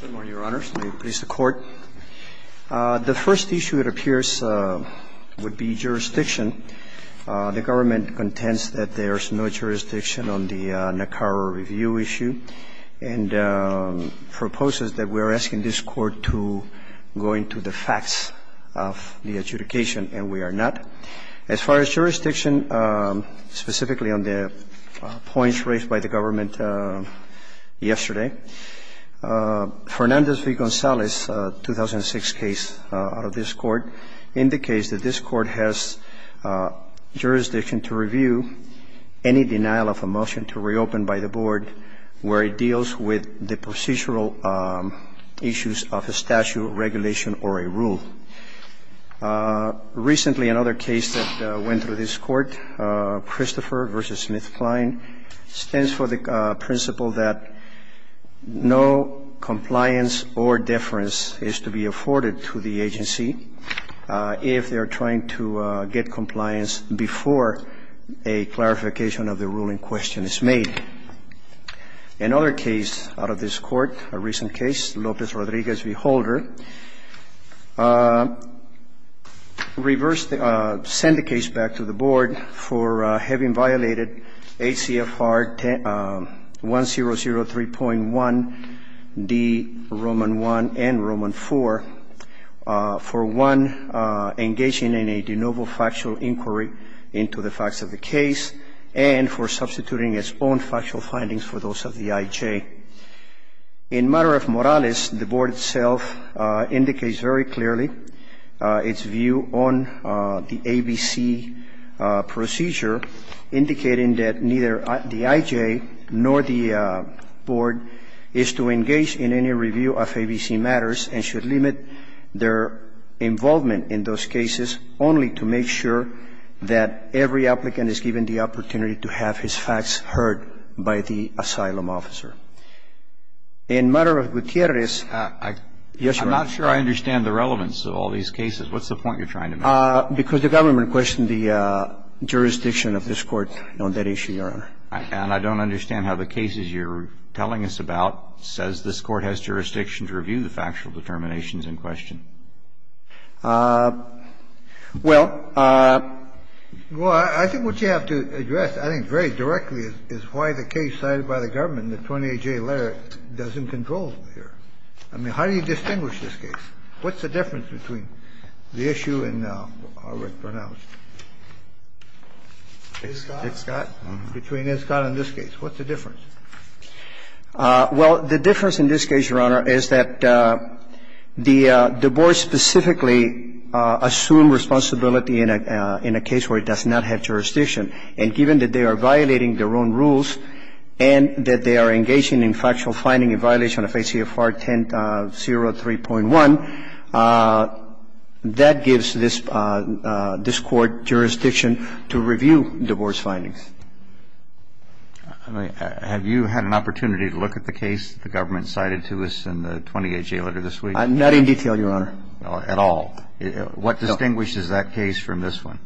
Good morning, Your Honors. May it please the Court. The first issue, it appears, would be jurisdiction. The government contends that there is no jurisdiction on the NACAR review issue and proposes that we are asking this Court to go into the facts of the adjudication, and we are not. As far as jurisdiction, specifically on the points raised by the government yesterday, Fernandez v. Gonzalez, a 2006 case out of this Court, indicates that this Court has jurisdiction to review any denial of a motion to reopen by the Board where it deals with the procedural issues of a statute, regulation, or a rule. Recently, another case that went through this Court, Christopher v. Smith Klein, stands for the principle that no compliance or deference is to be afforded to the agency if they are trying to get compliance before a clarification of the ruling question is made. Another case out of this Court, a recent case, Lopez Rodriguez v. Holder, reversed the – sent the case back to the Board for having violated ACFR 1003.1d, Roman I and Roman IV, for, one, engaging in a de novo factual inquiry into the facts of the case, and for substituting its own facts for the facts of the case. This Court has jurisdiction to review any denial of a motion to reopen by the Board where it deals with the procedural issues of a statute, regulation, or a rule. This Court has jurisdiction to review any denial of a motion to reopen by the Board where it deals with the facts of the case, Roman I and Roman IV, for, one, engaging in a de novo factual inquiry into the facts of the case, and for substituting its own facts for the facts of the case. This Court has jurisdiction to review any denial of a motion to reopen by the Board where it deals with the facts of the case, regulation, or a rule. Well, I think what you have to address, I think, very directly, is why the case cited by the government in the 28-J letter doesn't control here. I mean, how do you distinguish this case? What's the difference between the issue in, how was it pronounced? Iscott? Between Iscott and this case. What's the difference? Well, the difference in this case, Your Honor, is that the Board specifically assumed responsibility in a case where it does not have jurisdiction. And given that they are violating their own rules and that they are engaging in factual And given that they are finding a violation of ACFR 1003.1, that gives this Court jurisdiction to review divorce findings. Have you had an opportunity to look at the case that the government cited to us in the 28-J letter this week? Not in detail, Your Honor. At all. What distinguishes that case from this one?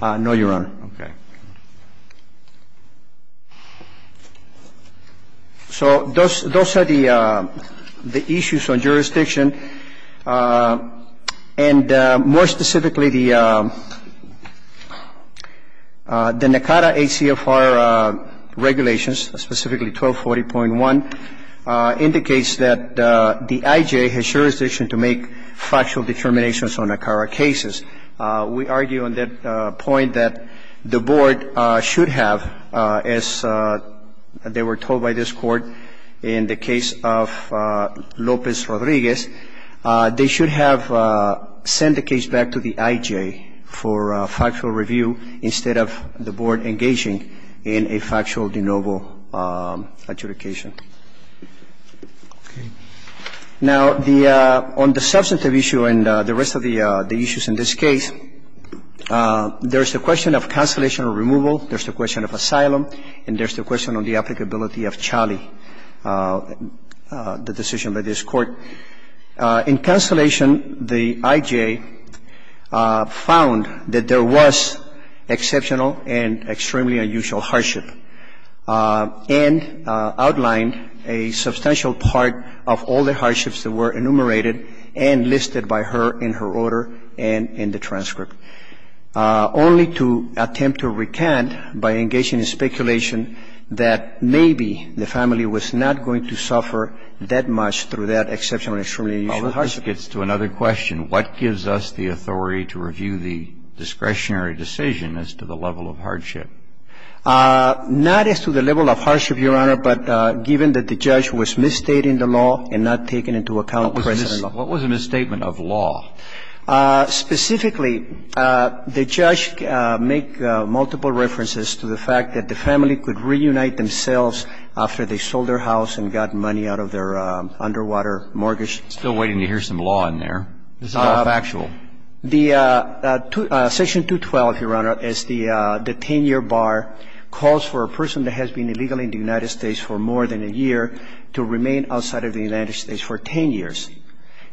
No, Your Honor. Okay. So those are the issues on jurisdiction. And more specifically, the NACADA ACFR regulations, specifically 1240.1, indicates that the IJ has jurisdiction to make factual determinations on NACARA cases. We argue on that point that the Board should have, as they were told by this Court in the case of Lopez Rodriguez, they should have sent the case back to the IJ for factual review instead of the Board engaging in a factual de novo adjudication. Now, on the substantive issue and the rest of the issues in this case, there is the question of cancellation or removal. There's the question of asylum. And there's the question of the applicability of Chali, the decision by this Court. In cancellation, the IJ found that there was exceptional and extremely unusual hardship, and outlined a substantial part of all the hardships that were enumerated and listed by her in her order and in the transcript, only to attempt to recant by engaging in speculation that maybe the family was not going to suffer that much through that exceptional and extremely unusual hardship. Now, the hardship gets to another question. What gives us the authority to review the discretionary decision as to the level of hardship? Not as to the level of hardship, Your Honor, but given that the judge was misstating the law and not taking into account the precedent law. What was the misstatement of law? Specifically, the judge make multiple references to the fact that the family could reunite themselves after they sold their house and got money out of their underwater mortgage. I'm asking you to tell us the difference between a person who was in the United States and they were not able to visit each other. We're still waiting to hear some law in there. This is all factual. The Section 212, Your Honor, is the 10-year bar. It calls for a person that has been illegal in the United States for more than a year to remain outside of the United States for 10 years.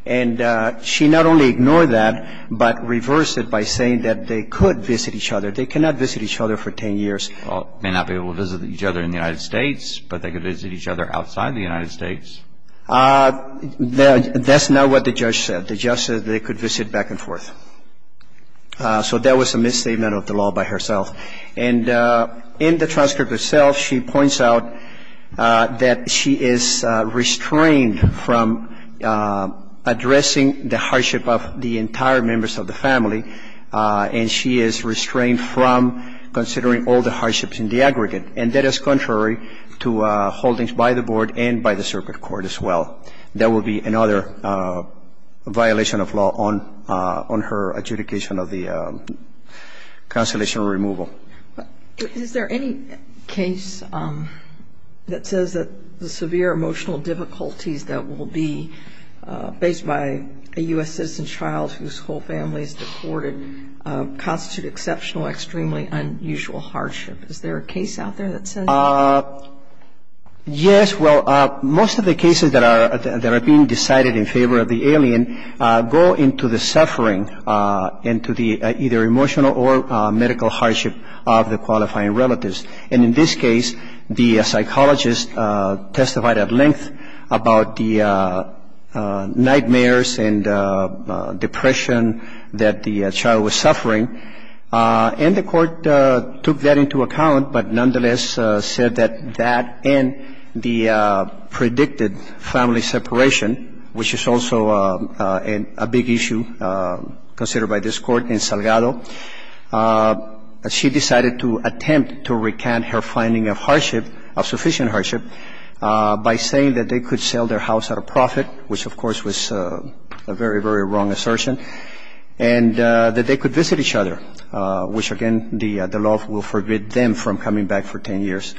And she not only ignored that, but reversed it by saying that they could visit each other. They cannot visit each other for 10 years. May not be able to visit each other in the United States, but they could visit each other outside the United States. That's not what the judge said. The judge said they could visit back and forth. So that was a misstatement of the law by herself. And in the transcript itself, she points out that she is restrained from addressing the hardship of the entire members of the family. And she is restrained from considering all the hardships in the aggregate. And that is contrary to holdings by the board and by the circuit court as well. That would be another violation of law on her adjudication of the cancellation or removal. Is there any case that says that the severe emotional difficulties that will be faced by a U.S. citizen child whose whole family is deported constitute exceptional, extremely unusual hardship? Is there a case out there that says that? Yes. Well, most of the cases that are being decided in favor of the alien go into the suffering, into the either emotional or medical hardship of the qualifying relatives. And in this case, the psychologist testified at length about the nightmares and depression that the child was suffering. And the court took that into account, but nonetheless said that that and the predicted family separation, which is also a big issue considered by this Court in Salgado, she decided to attempt to recant her finding of hardship, of sufficient hardship, by saying that they could sell their house at a profit, which, of course, was a very, very wrong assertion, and that they could visit each other, which, again, the law will forbid them from coming back for 10 years,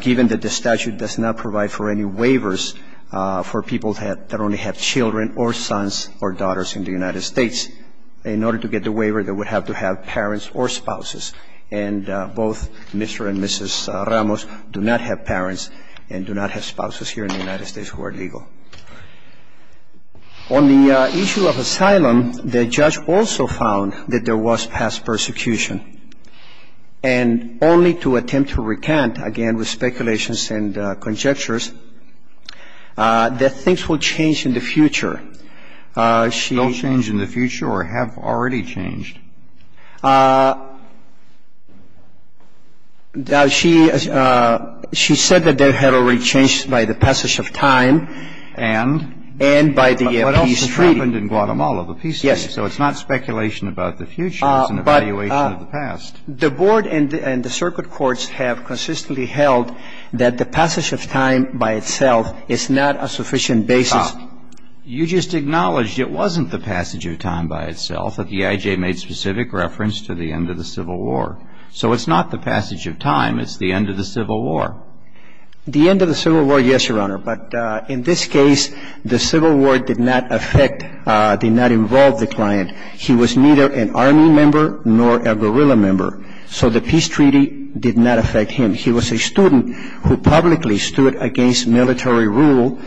given that the statute does not provide for any waivers for people that only have children or sons or daughters in the United States. In order to get the waiver, they would have to have parents or spouses, and both Mr. and Mrs. Ramos do not have parents and do not have spouses here in the United States who are legal. On the issue of asylum, the judge also found that there was past persecution, and only to attempt to recant, again, with speculations and conjectures, that things will change in the future. She... They'll change in the future or have already changed? Now, she said that they had already changed by the passage of time and by the peace treaty. What else has happened in Guatemala? The peace treaty. Yes. So it's not speculation about the future. It's an evaluation of the past. But the board and the circuit courts have consistently held that the passage of time by itself is not a sufficient basis. Stop. You just acknowledged it wasn't the passage of time by itself. The IJ made specific reference to the end of the Civil War. So it's not the passage of time. It's the end of the Civil War. The end of the Civil War, yes, Your Honor. But in this case, the Civil War did not affect, did not involve the client. He was neither an Army member nor a guerrilla member. So the peace treaty did not affect him. He was a student who publicly stood against military rule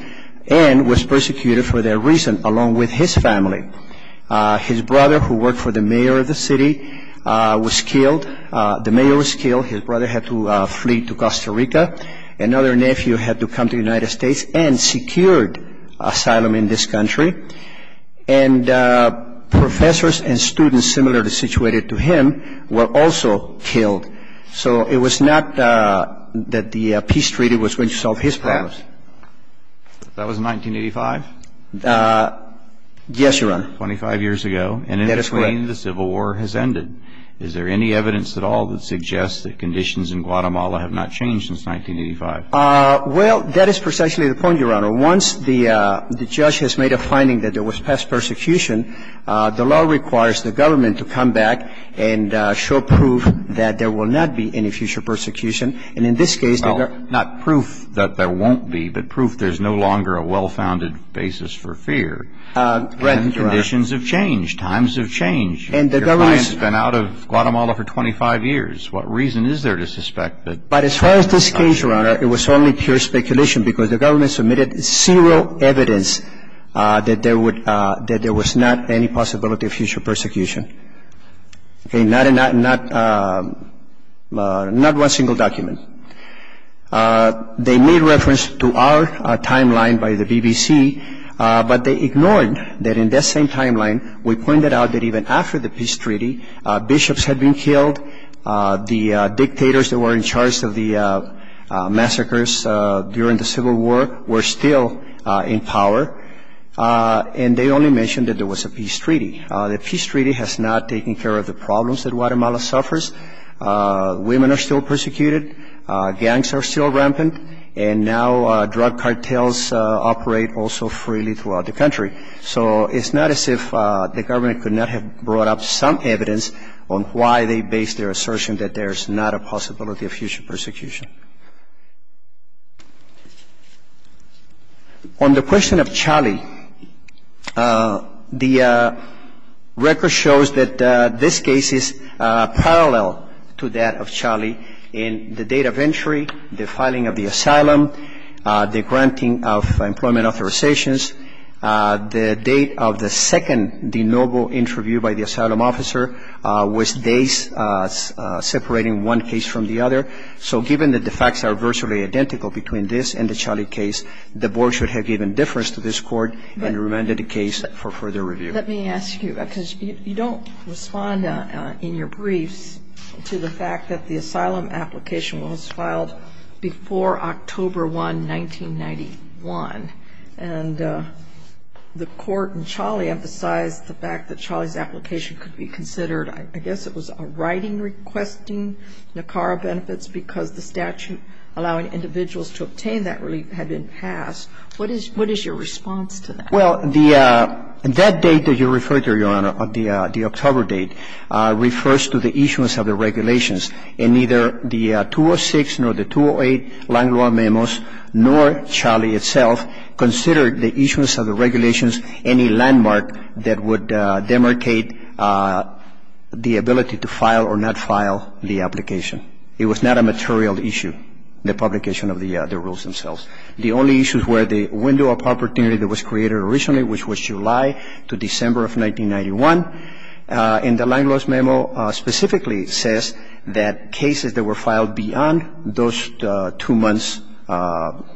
and was persecuted for that reason, along with his family. His brother, who worked for the mayor of the city, was killed. The mayor was killed. His brother had to flee to Costa Rica. Another nephew had to come to the United States and secured asylum in this country. And professors and students similarly situated to him were also killed. So it was not that the peace treaty was going to solve his problems. That was 1985? Yes, Your Honor. Twenty-five years ago. That is correct. And in this way, the Civil War has ended. Is there any evidence at all that suggests that conditions in Guatemala have not changed since 1985? Well, that is precisely the point, Your Honor. Once the judge has made a finding that there was past persecution, the law requires the government to come back and show proof that there will not be any future persecution. Well, not proof that there won't be, but proof there is no longer a well-founded basis for fear. Conditions have changed. Times have changed. Your client has been out of Guatemala for 25 years. What reason is there to suspect that? But as far as this case, Your Honor, it was only pure speculation because the government submitted zero evidence that there was not any possibility of future persecution. Okay, not one single document. They made reference to our timeline by the BBC, but they ignored that in that same timeline we pointed out that even after the peace treaty, bishops had been killed, the dictators that were in charge of the massacres during the Civil War were still in power, and they only mentioned that there was a peace treaty. The peace treaty has not taken care of the problems that Guatemala suffers. Women are still persecuted. Gangs are still rampant, and now drug cartels operate also freely throughout the country. So it's not as if the government could not have brought up some evidence on why they based their assertion that there's not a possibility of future persecution. On the question of Chali, the record shows that this case is parallel to that of Chali in the date of entry, the filing of the asylum, the granting of employment authorizations. The date of the second de novo interview by the asylum officer was days separating one case from the other. So given that the facts are virtually identical between this and the Chali case, the board should have given difference to this court and remanded the case for further review. Let me ask you, because you don't respond in your briefs to the fact that the asylum application was filed before October 1, 1991, and the court in Chali emphasized the fact that Chali's application could be considered, I guess it was a writing requesting NACARA benefits because the statute allowing individuals to obtain that relief had been passed. What is your response to that? Well, that date that you refer to, Your Honor, the October date, refers to the issuance of the regulations. And neither the 206 nor the 208 land law memos, nor Chali itself, considered the issuance of the regulations any landmark that would demarcate the ability to file or not file the application. It was not a material issue, the publication of the rules themselves. The only issues were the window of opportunity that was created originally, which was July to December of 1991. And the land laws memo specifically says that cases that were filed beyond those two months'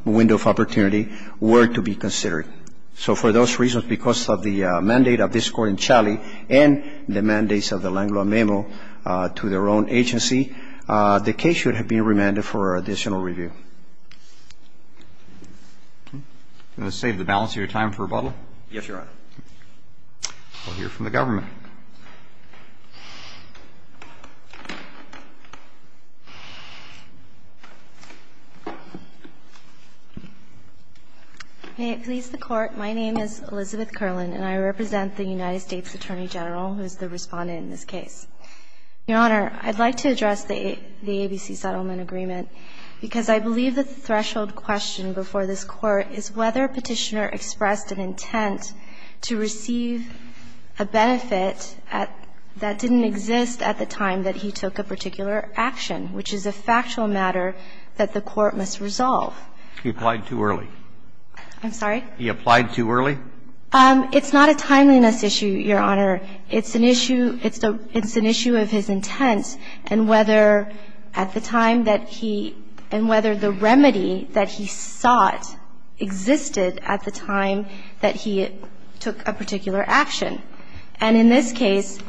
window of opportunity were to be considered. So for those reasons, because of the mandate of this Court in Chali and the mandates of the land law memo to their own agency, the case should have been remanded for additional review. Can I save the balance of your time for rebuttal? Yes, Your Honor. We'll hear from the government. May it please the Court. My name is Elizabeth Kerlin, and I represent the United States Attorney General, who is the Respondent in this case. Your Honor, I'd like to address the ABC settlement agreement, because I believe it's an issue of the threshold question before this Court, is whether Petitioner expressed an intent to receive a benefit that didn't exist at the time that he took a particular action, which is a factual matter that the Court must resolve. He applied too early. I'm sorry? He applied too early? It's not a timeliness issue, Your Honor. It's an issue of his intent and whether at the time that he and whether the record of the remedy that he sought existed at the time that he took a particular action. And in this case,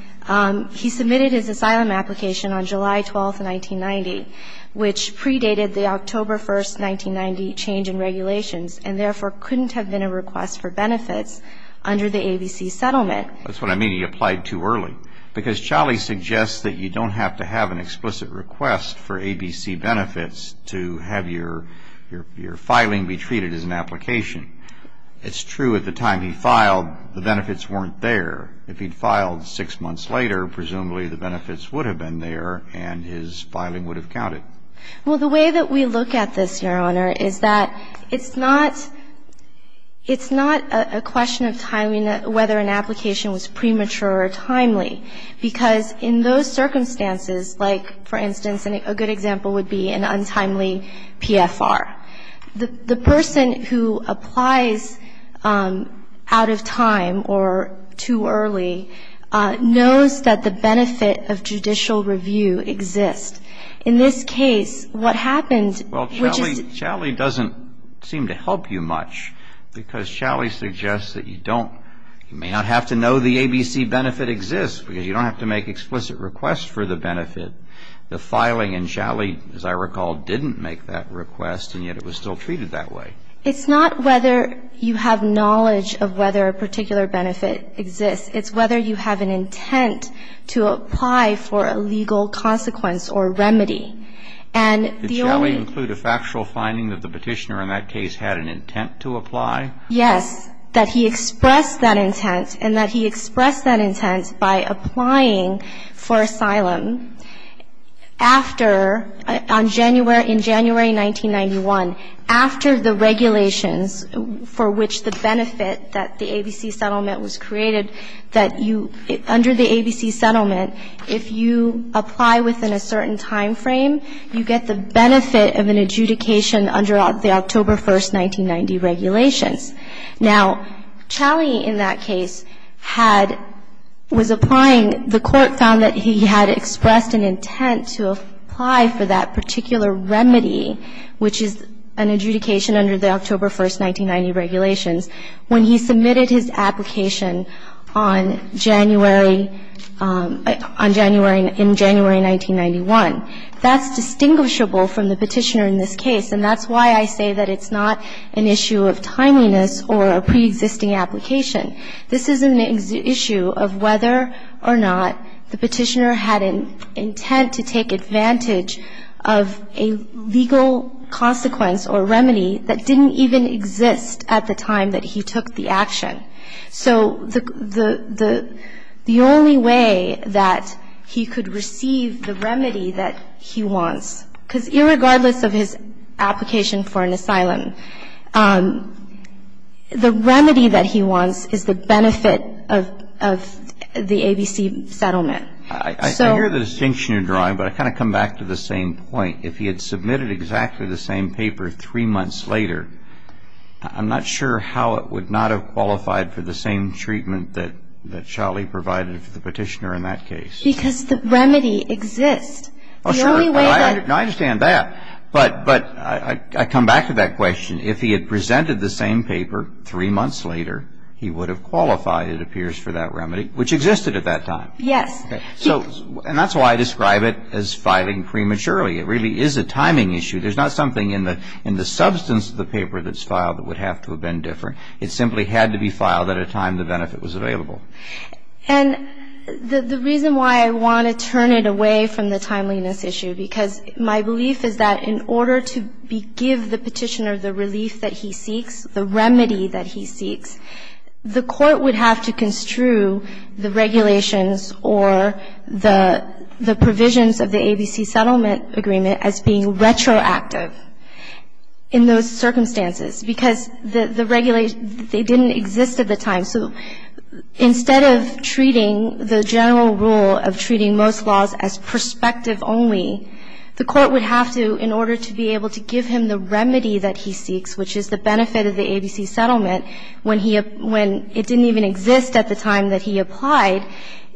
he submitted his asylum application on July 12, 1990, which predated the October 1, 1990 change in regulations, and therefore couldn't have been a request for benefits under the ABC settlement. That's what I mean, he applied too early, because Chali suggests that you don't have to have an explicit request for ABC benefits to have your filing be treated as an application. It's true at the time he filed, the benefits weren't there. If he'd filed six months later, presumably the benefits would have been there and his filing would have counted. Well, the way that we look at this, Your Honor, is that it's not a question of whether an application was premature or timely, because in those circumstances, like, for instance, a good example would be an untimely PFR. The person who applies out of time or too early knows that the benefit of judicial review exists. In this case, what happened, which is to do with the fact that he had a request to apply for a legal consequence or remedy. And the only question is whether or not the petitioner had an intent to apply. Now, you don't have to know the ABC benefit exists, because you don't have to make explicit requests for the benefit. The filing in Chali, as I recall, didn't make that request, and yet it was still treated that way. It's not whether you have knowledge of whether a particular benefit exists. It's whether you have an intent to apply for a legal consequence or remedy. And the only ---- Did Chali include a factual finding that the petitioner in that case had an intent to apply? Yes, that he expressed that intent, and that he expressed that intent by applying for asylum after, on January, in January 1991, after the regulations for which the ABC settlement, if you apply within a certain time frame, you get the benefit of an adjudication under the October 1st, 1990, regulations. Now, Chali in that case had ---- was applying. The Court found that he had expressed an intent to apply for that particular remedy, which is an adjudication under the October 1st, 1990, regulations. When he submitted his application on January, on January, in January 1991, that's distinguishable from the petitioner in this case, and that's why I say that it's not an issue of timeliness or a preexisting application. This is an issue of whether or not the petitioner had an intent to take advantage of a legal consequence or remedy that didn't even exist at the time that he took the action. So the only way that he could receive the remedy that he wants, because irregardless of his application for an asylum, the remedy that he wants is the benefit of the ABC settlement. I hear the distinction you're drawing, but I kind of come back to the same point. If he had submitted exactly the same paper three months later, I'm not sure how it would not have qualified for the same treatment that Chali provided for the petitioner in that case. Because the remedy exists. Oh, sure. The only way that ---- I understand that. But I come back to that question. If he had presented the same paper three months later, he would have qualified, it appears, for that remedy, which existed at that time. Yes. So, and that's why I describe it as filing prematurely. It really is a timing issue. There's not something in the substance of the paper that's filed that would have to have been different. It simply had to be filed at a time the benefit was available. And the reason why I want to turn it away from the timeliness issue, because my belief is that in order to give the petitioner the relief that he seeks, the remedy that he seeks, which is the benefit of the ABC settlement, when he ---- when it didn't even exist at the time that he applied, the court would have to, in order to be able to give him the remedy that he seeks, which is the benefit of the ABC settlement, when he ---- when it didn't even exist at the time that he applied,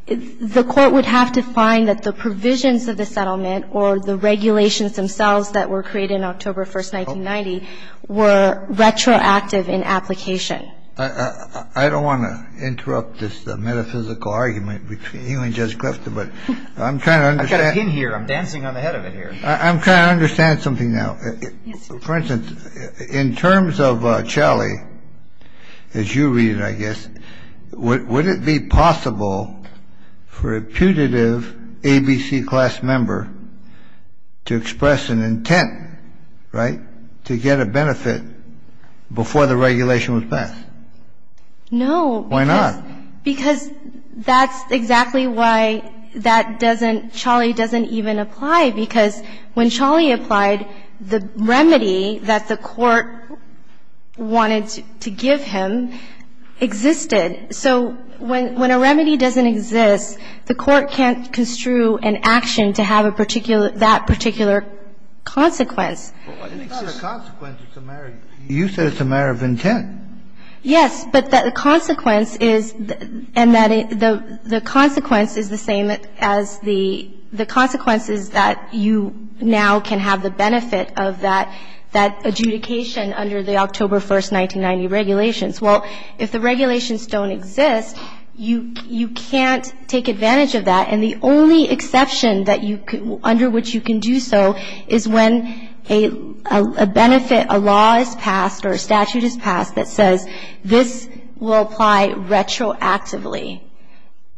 the court would have to find that the provisions of the settlement or the regulations themselves that were created in October 1, 1990 were retroactive in application. I don't want to interrupt this metaphysical argument between you and Judge Clifton, but I'm trying to understand ---- I've got a pin here. I'm dancing on the head of it here. I'm trying to understand something now. Yes, Your Honor. For instance, in terms of Shelley, as you read it, I guess, would it be possible for a putative ABC class member to express an intent, right, to get a benefit before the regulation was passed? No. Why not? Because that's exactly why that doesn't ---- Shelley doesn't even apply, because when Shelley applied, the remedy that the court wanted to give him existed. So when a remedy doesn't exist, the court can't construe an action to have a particular ---- that particular consequence. It's not a consequence. It's a matter of ---- you said it's a matter of intent. Yes. But the consequence is ---- and that the consequence is the same as the ---- the consequence is that you now can have the benefit of that adjudication under the October 1, 1990 regulations. Well, if the regulations don't exist, you can't take advantage of that. And the only exception that you can ---- under which you can do so is when a benefit, a law is passed or a statute is passed that says this will apply retroactively.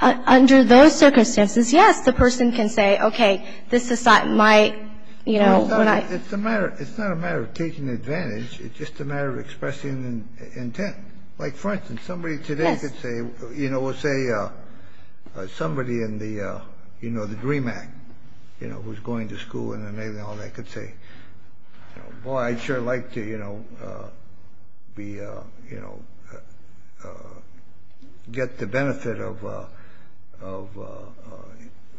Under those circumstances, yes, the person can say, okay, this is my, you know, what I ---- It's a matter of ---- it's not a matter of taking advantage. It's just a matter of expressing intent. Like, for instance, somebody today could say ---- Yes. You know, we'll say somebody in the, you know, the Dream Act, you know, who's going to school and then maybe all that, could say, boy, I'd sure like to, you know, be, you know, get the benefit of,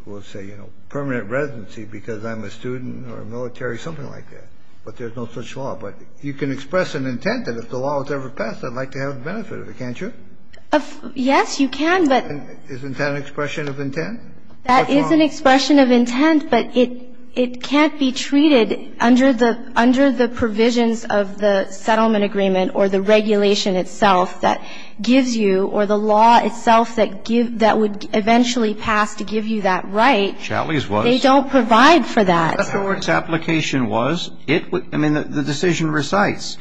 we'll say, you know, permanent residency because I'm a student or a military, something like that. But there's no such law. But you can express an intent that if the law is ever passed, I'd like to have the benefit of it, can't you? Yes, you can, but ---- Isn't that an expression of intent? That is an expression of intent, but it can't be treated under the provisions of the settlement agreement or the regulation itself that gives you or the law itself that would eventually pass to give you that right. Challey's was. They don't provide for that. I mean, the decision recites.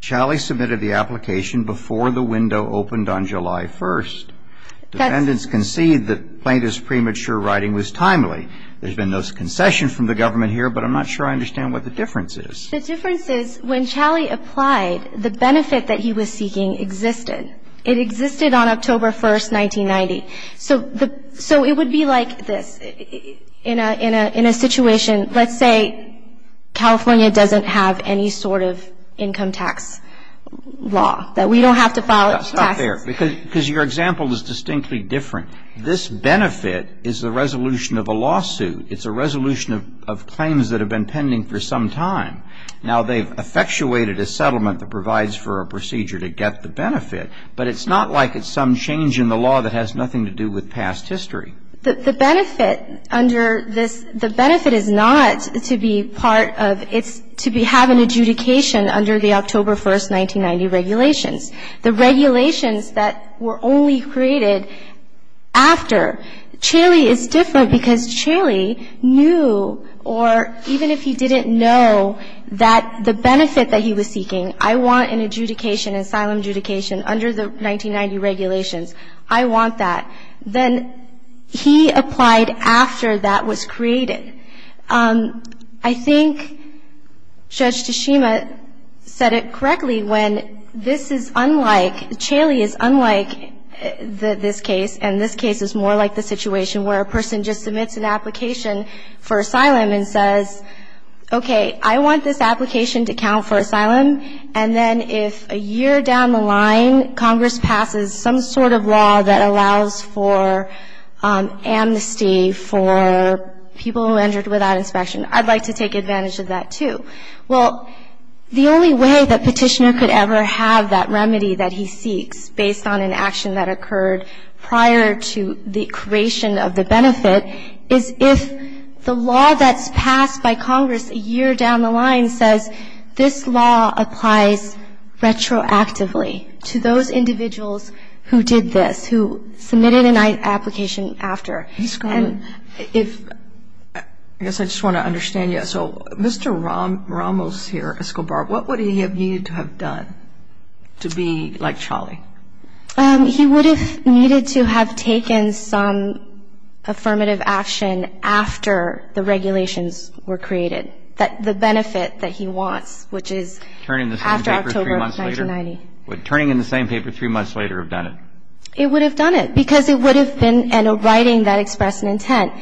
Challey submitted the application before the window opened on July 1st. Defendants concede that Plaintiff's premature writing was timely. There's been no concession from the government here, but I'm not sure I understand what the difference is. The difference is when Challey applied, the benefit that he was seeking existed. It existed on October 1st, 1990. So it would be like this. In a situation, let's say California doesn't have any sort of income tax law, that we don't have to file taxes. That's not fair because your example is distinctly different. This benefit is the resolution of a lawsuit. It's a resolution of claims that have been pending for some time. Now, they've effectuated a settlement that provides for a procedure to get the benefit, but it's not like it's some change in the law that has nothing to do with past history. The benefit under this, the benefit is not to be part of, it's to have an adjudication under the October 1st, 1990 regulations. The regulations that were only created after, Challey is different because Challey knew, or even if he didn't know that the benefit that he was seeking, I want an adjudication, asylum adjudication, under the 1990 regulations. I want that. Then he applied after that was created. I think Judge Tashima said it correctly when this is unlike, Challey is unlike this case, and this case is more like the situation where a person just submits an application for asylum and says, okay, I want this application to count for asylum, and then if a year down the line Congress passes some sort of law that allows for amnesty for people who entered without inspection, I'd like to take advantage of that, too. Well, the only way that Petitioner could ever have that remedy that he seeks, based on an action that occurred prior to the creation of the benefit, is if the law that's passed by Congress a year down the line says, this law applies retroactively to those individuals who did this, who submitted an application after. Ms. Garland, I guess I just want to understand you. So Mr. Ramos here, Escobar, what would he have needed to have done to be like Challey? He would have needed to have taken some affirmative action after the regulations were created, the benefit that he wants, which is after October of 1990. Would turning in the same paper three months later have done it? It would have done it, because it would have been in a writing that expressed an intent.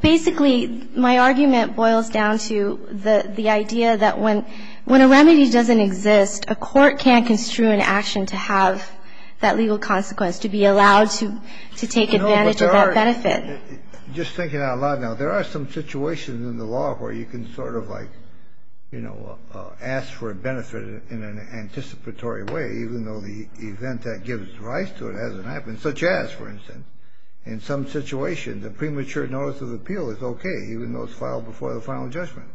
Basically, my argument boils down to the idea that when a remedy doesn't exist, a court can't construe an action to have that legal consequence, to be allowed to take advantage of that benefit. No, but there are, just thinking out loud now, there are some situations in the law where you can sort of like, you know, ask for a benefit in an anticipatory way, even though the event that gives rise to it hasn't happened. Such as, for instance, in some situations, a premature notice of appeal is okay, even though it's filed before the final judgment.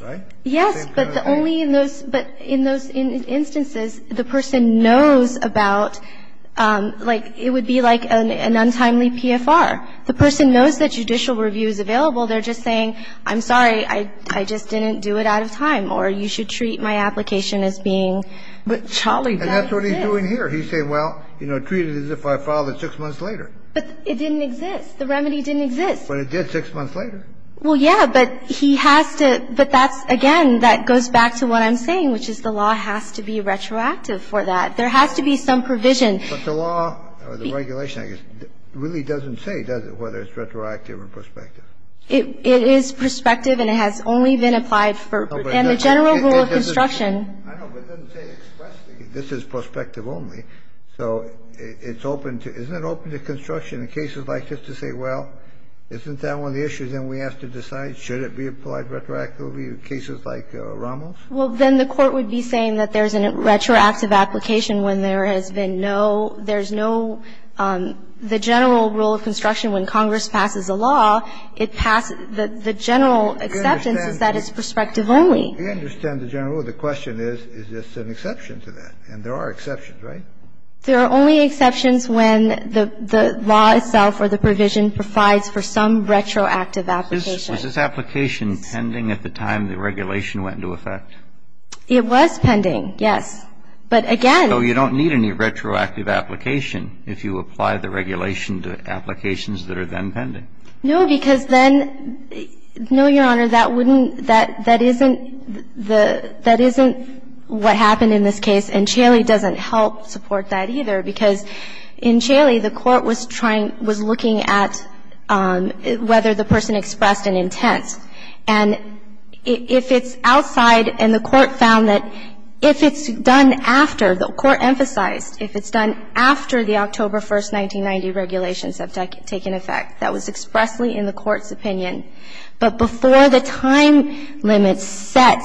Right? Yes, but the only in those, but in those instances, the person knows about, like, it would be like an untimely PFR. The person knows that judicial review is available. They're just saying, I'm sorry, I just didn't do it out of time, or you should treat my application as being, but Challey does exist. And that's what he's doing here. He's saying, well, you know, treat it as if I filed it six months later. But it didn't exist. The remedy didn't exist. But it did six months later. Well, yeah, but he has to, but that's, again, that goes back to what I'm saying, which is the law has to be retroactive for that. There has to be some provision. But the law, or the regulation, I guess, really doesn't say, does it, whether it's retroactive or prospective. It is prospective, and it has only been applied for, in the general rule of construction. I know, but it doesn't say expressly, this is prospective only. So it's open to, isn't it open to construction in cases like this to say, well, isn't that one of the issues, and we have to decide, should it be applied retroactively in cases like Rommel's? Well, then the Court would be saying that there's a retroactive application when there has been no, there's no, the general rule of construction, when Congress passes a law, it passes, the general exception is that it's prospective only. We understand the general rule. The question is, is this an exception to that? And there are exceptions, right? There are only exceptions when the law itself or the provision provides for some retroactive application. Was this application pending at the time the regulation went into effect? It was pending, yes. But again. So you don't need any retroactive application if you apply the regulation to applications that are then pending? No, because then, no, Your Honor, that wouldn't, that isn't the, that isn't what happened in this case, and Chaley doesn't help support that either, because in Chaley, the Court was trying, was looking at whether the person expressed an intent. And if it's outside, and the Court found that if it's done after, the Court emphasized if it's done after the October 1st, 1990 regulations have taken effect, that was expressly in the Court's opinion. But before the time limit set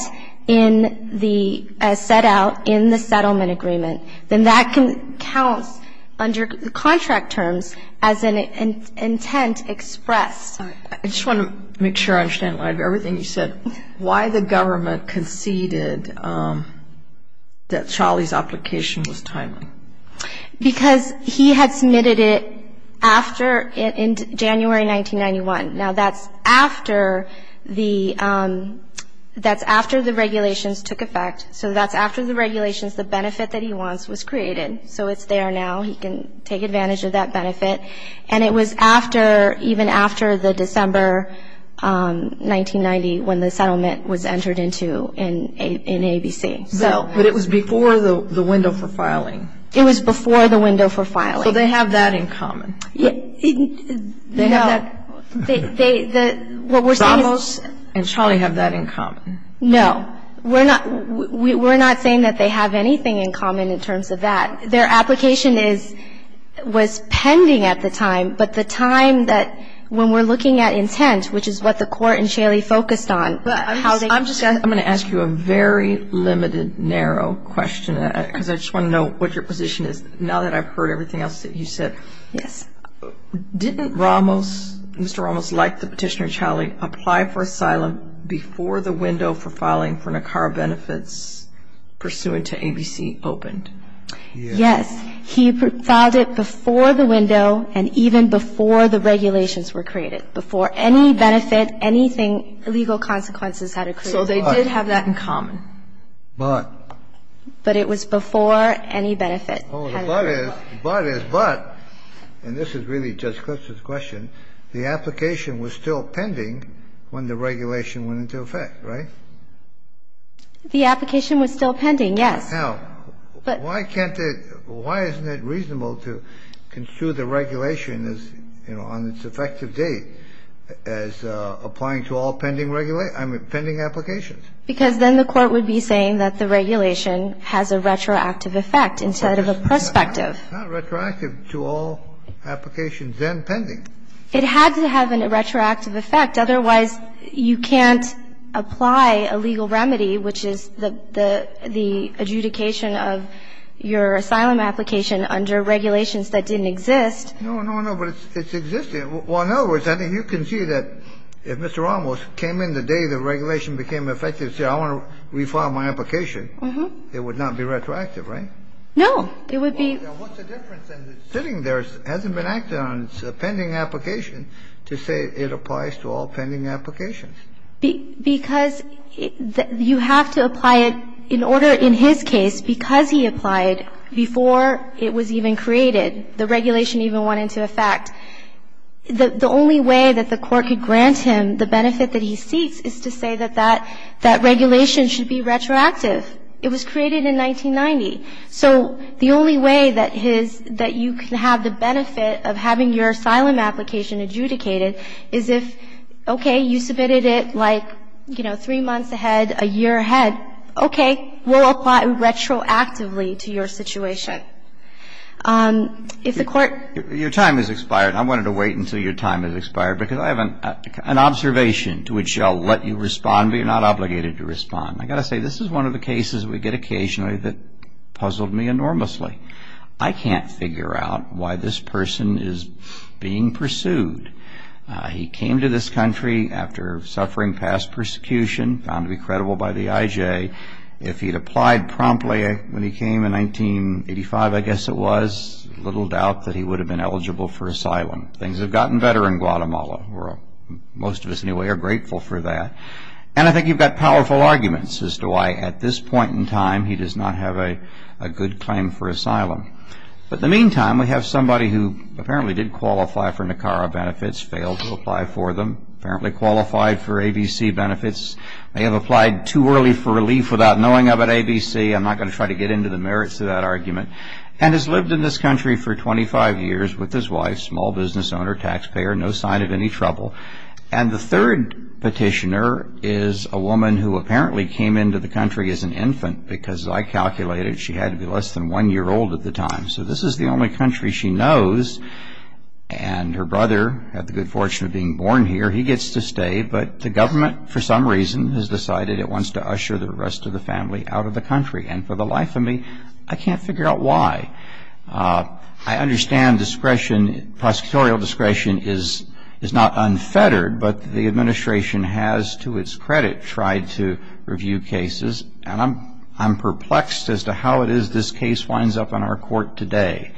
in the, set out in the settlement agreement, then that can count under contract terms as an intent expressed. I just want to make sure I understand a lot of everything you said. Why the government conceded that Chaley's application was timely? Because he had submitted it after, in January 1991. Now, that's after the, that's after the regulations took effect. So that's after the regulations, the benefit that he wants was created. So it's there now. He can take advantage of that benefit. And it was after, even after the December 1990, when the settlement was entered into in ABC. But it was before the window for filing. It was before the window for filing. So they have that in common. They have that. No. They, the, what we're saying is. Ramos and Chaley have that in common. No. We're not, we're not saying that they have anything in common in terms of that. Their application is, was pending at the time, but the time that when we're looking at intent, which is what the Court and Chaley focused on, how they. I'm just going to ask you a very limited, narrow question, because I just want to know what your position is now that I've heard everything else that you said. Didn't Ramos, Mr. Ramos, like the Petitioner and Chaley, apply for asylum before the window for filing for NACCAR benefits pursuant to ABC opened? Yes. He filed it before the window and even before the regulations were created, before any benefit, anything, legal consequences had occurred. So they did have that in common. But. But it was before any benefit. Well, the but is, the but is, but, and this is really Judge Kliff's question, the application was still pending when the regulation went into effect, right? The application was still pending, yes. Now, why can't it, why isn't it reasonable to construe the regulation as, you know, on its effective date as applying to all pending regulations, pending applications? Because then the Court would be saying that the regulation has a retroactive effect instead of a prospective. It's not retroactive to all applications then pending. It had to have a retroactive effect. Otherwise, you can't apply a legal remedy, which is the adjudication of your asylum application under regulations that didn't exist. No, no, no. But it's existing. Well, in other words, I think you can see that if Mr. Ramos came in the day the regulation became effective and said, I want to refile my application, it would not be retroactive, right? No. It would be. Well, then what's the difference in sitting there, hasn't been acted on, it's a pending application, to say it applies to all pending applications? Because you have to apply it in order, in his case, because he applied before it was even created, the regulation even went into effect. The only way that the Court could grant him the benefit that he seeks is to say that that regulation should be retroactive. It was created in 1990. So the only way that his – that you can have the benefit of having your asylum application adjudicated is if, okay, you submitted it like, you know, three months ahead, a year ahead, okay, we'll apply retroactively to your situation. If the Court – Your time has expired. I wanted to wait until your time has expired, because I have an observation to which I'll let you respond, but you're not obligated to respond. I've got to say, this is one of the cases we get occasionally that puzzled me enormously. I can't figure out why this person is being pursued. He came to this country after suffering past persecution, found to be credible by the IJ. If he'd applied promptly when he came in 1985, I guess it was, little doubt that he would have been eligible for asylum. Things have gotten better in Guatemala. Most of us, anyway, are grateful for that. And I think you've got powerful arguments as to why, at this point in time, he does not have a good claim for asylum. But in the meantime, we have somebody who apparently did qualify for NACARA benefits, failed to apply for them, apparently qualified for ABC benefits, may have applied too early for relief without knowing about ABC. I'm not going to try to get into the merits of that argument, and has lived in this country for 25 years with his wife, small business owner, taxpayer, no sign of any trouble. And the third petitioner is a woman who apparently came into the country as an infant, because I calculated she had to be less than one year old at the time. So this is the only country she knows. And her brother had the good fortune of being born here. He gets to stay. But the government, for some reason, has decided it wants to usher the rest of the family out of the country. And for the life of me, I can't figure out why. I understand discretion, prosecutorial discretion, is not unfettered. But the administration has, to its credit, tried to review cases. And I'm perplexed as to how it is this case winds up in our court today.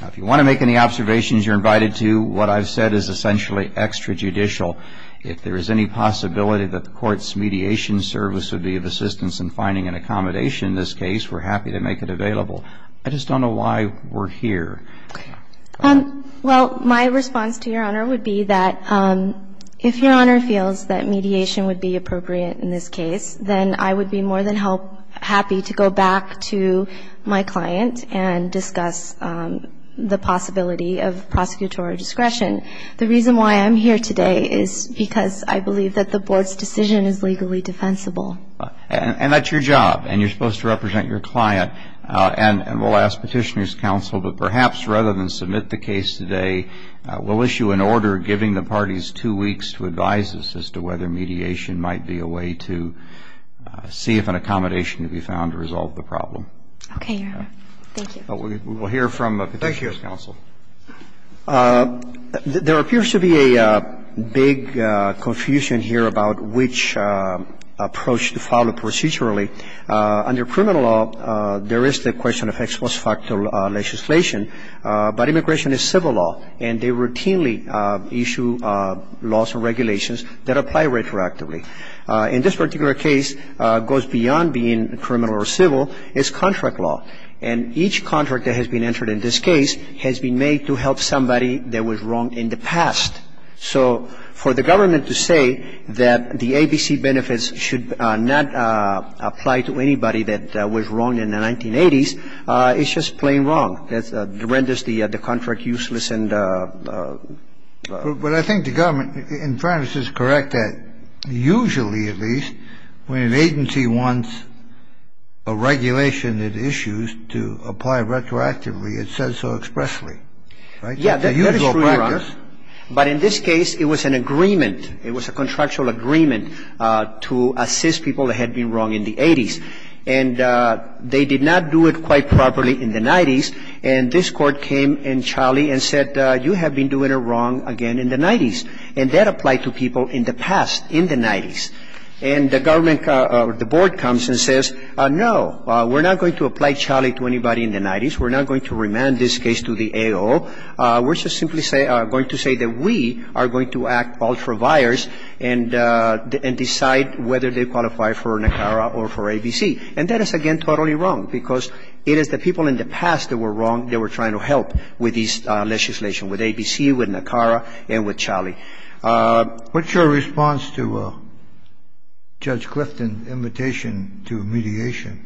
Now, if you want to make any observations, you're invited to. What I've said is essentially extrajudicial. If there is any possibility that the court's mediation service would be of assistance in finding an accommodation in this case, we're happy to make it available. I just don't know why we're here. Well, my response to Your Honor would be that if Your Honor feels that mediation would be appropriate in this case, then I would be more than happy to go back to my client and discuss the possibility of prosecutorial discretion. The reason why I'm here today is because I believe that the board's decision is legally defensible. And that's your job, and you're supposed to represent your client. And we'll ask Petitioner's Counsel, but perhaps rather than submit the case today, we'll issue an order giving the parties two weeks to advise us as to whether mediation might be a way to see if an accommodation can be found to resolve the problem. Okay, Your Honor. Thank you. We'll hear from Petitioner's Counsel. Thank you. There appears to be a big confusion here about which approach to follow procedurally. Under criminal law, there is the question of ex post facto legislation. But immigration is civil law, and they routinely issue laws and regulations that apply retroactively. And this particular case goes beyond being criminal or civil. It's contract law. And each contract that has been entered in this case has been made to help somebody that was wronged in the past. So for the government to say that the ABC benefits should not apply to anybody that was wronged in the 1980s, it's just plain wrong. It renders the contract useless. But I think the government, in fairness, is correct that usually, at least, when an agency wants a regulation, it issues to apply retroactively. It says so expressly. Right? It's a usual practice. Yeah, that is true, Your Honor. But in this case, it was an agreement. It was a contractual agreement to assist people that had been wronged in the 1980s. And they did not do it quite properly in the 1990s. And this Court came in Charlie and said, you have been doing it wrong again in the 1990s. And that applied to people in the past, in the 1990s. And the government, the Board comes and says, no, we're not going to apply Charlie to anybody in the 1990s. We're not going to remand this case to the AO. We're just simply going to say that we are going to act ultra-vires and decide whether they qualify for NACARA or for ABC. And that is, again, totally wrong because it is the people in the past that were wronged that were trying to help with this legislation, with ABC, with NACARA, and with Charlie. What's your response to Judge Clifton's invitation to mediation?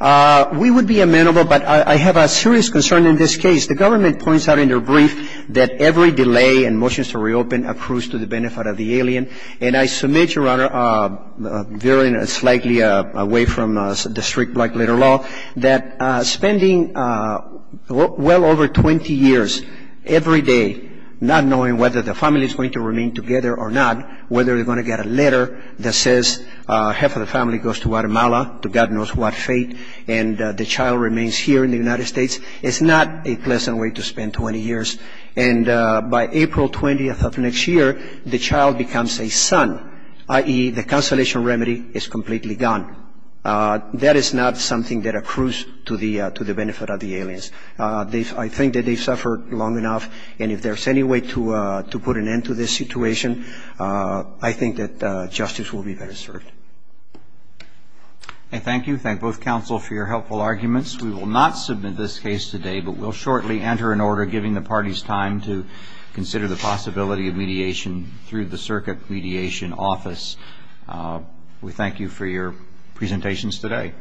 We would be amenable. But I have a serious concern in this case. The government points out in their brief that every delay in motions to reopen accrues to the benefit of the alien. And I submit, Your Honor, veering slightly away from the strict black-letter law, that spending well over 20 years every day not knowing whether the family is going to remain together or not, whether they're going to get a letter that says half of the family goes to Guatemala, to God knows what fate, and the child remains here in the United States, is not a pleasant way to spend 20 years. And by April 20th of next year, the child becomes a son, i.e., the consolation remedy is completely gone. That is not something that accrues to the benefit of the aliens. I think that they've suffered long enough. And if there's any way to put an end to this situation, I think that justice will be better served. Thank you. Thank both counsel for your helpful arguments. We will not submit this case today, but we'll shortly enter an order giving the parties time to consider the possibility of mediation through the Circuit Mediation Office. We thank you for your presentations today.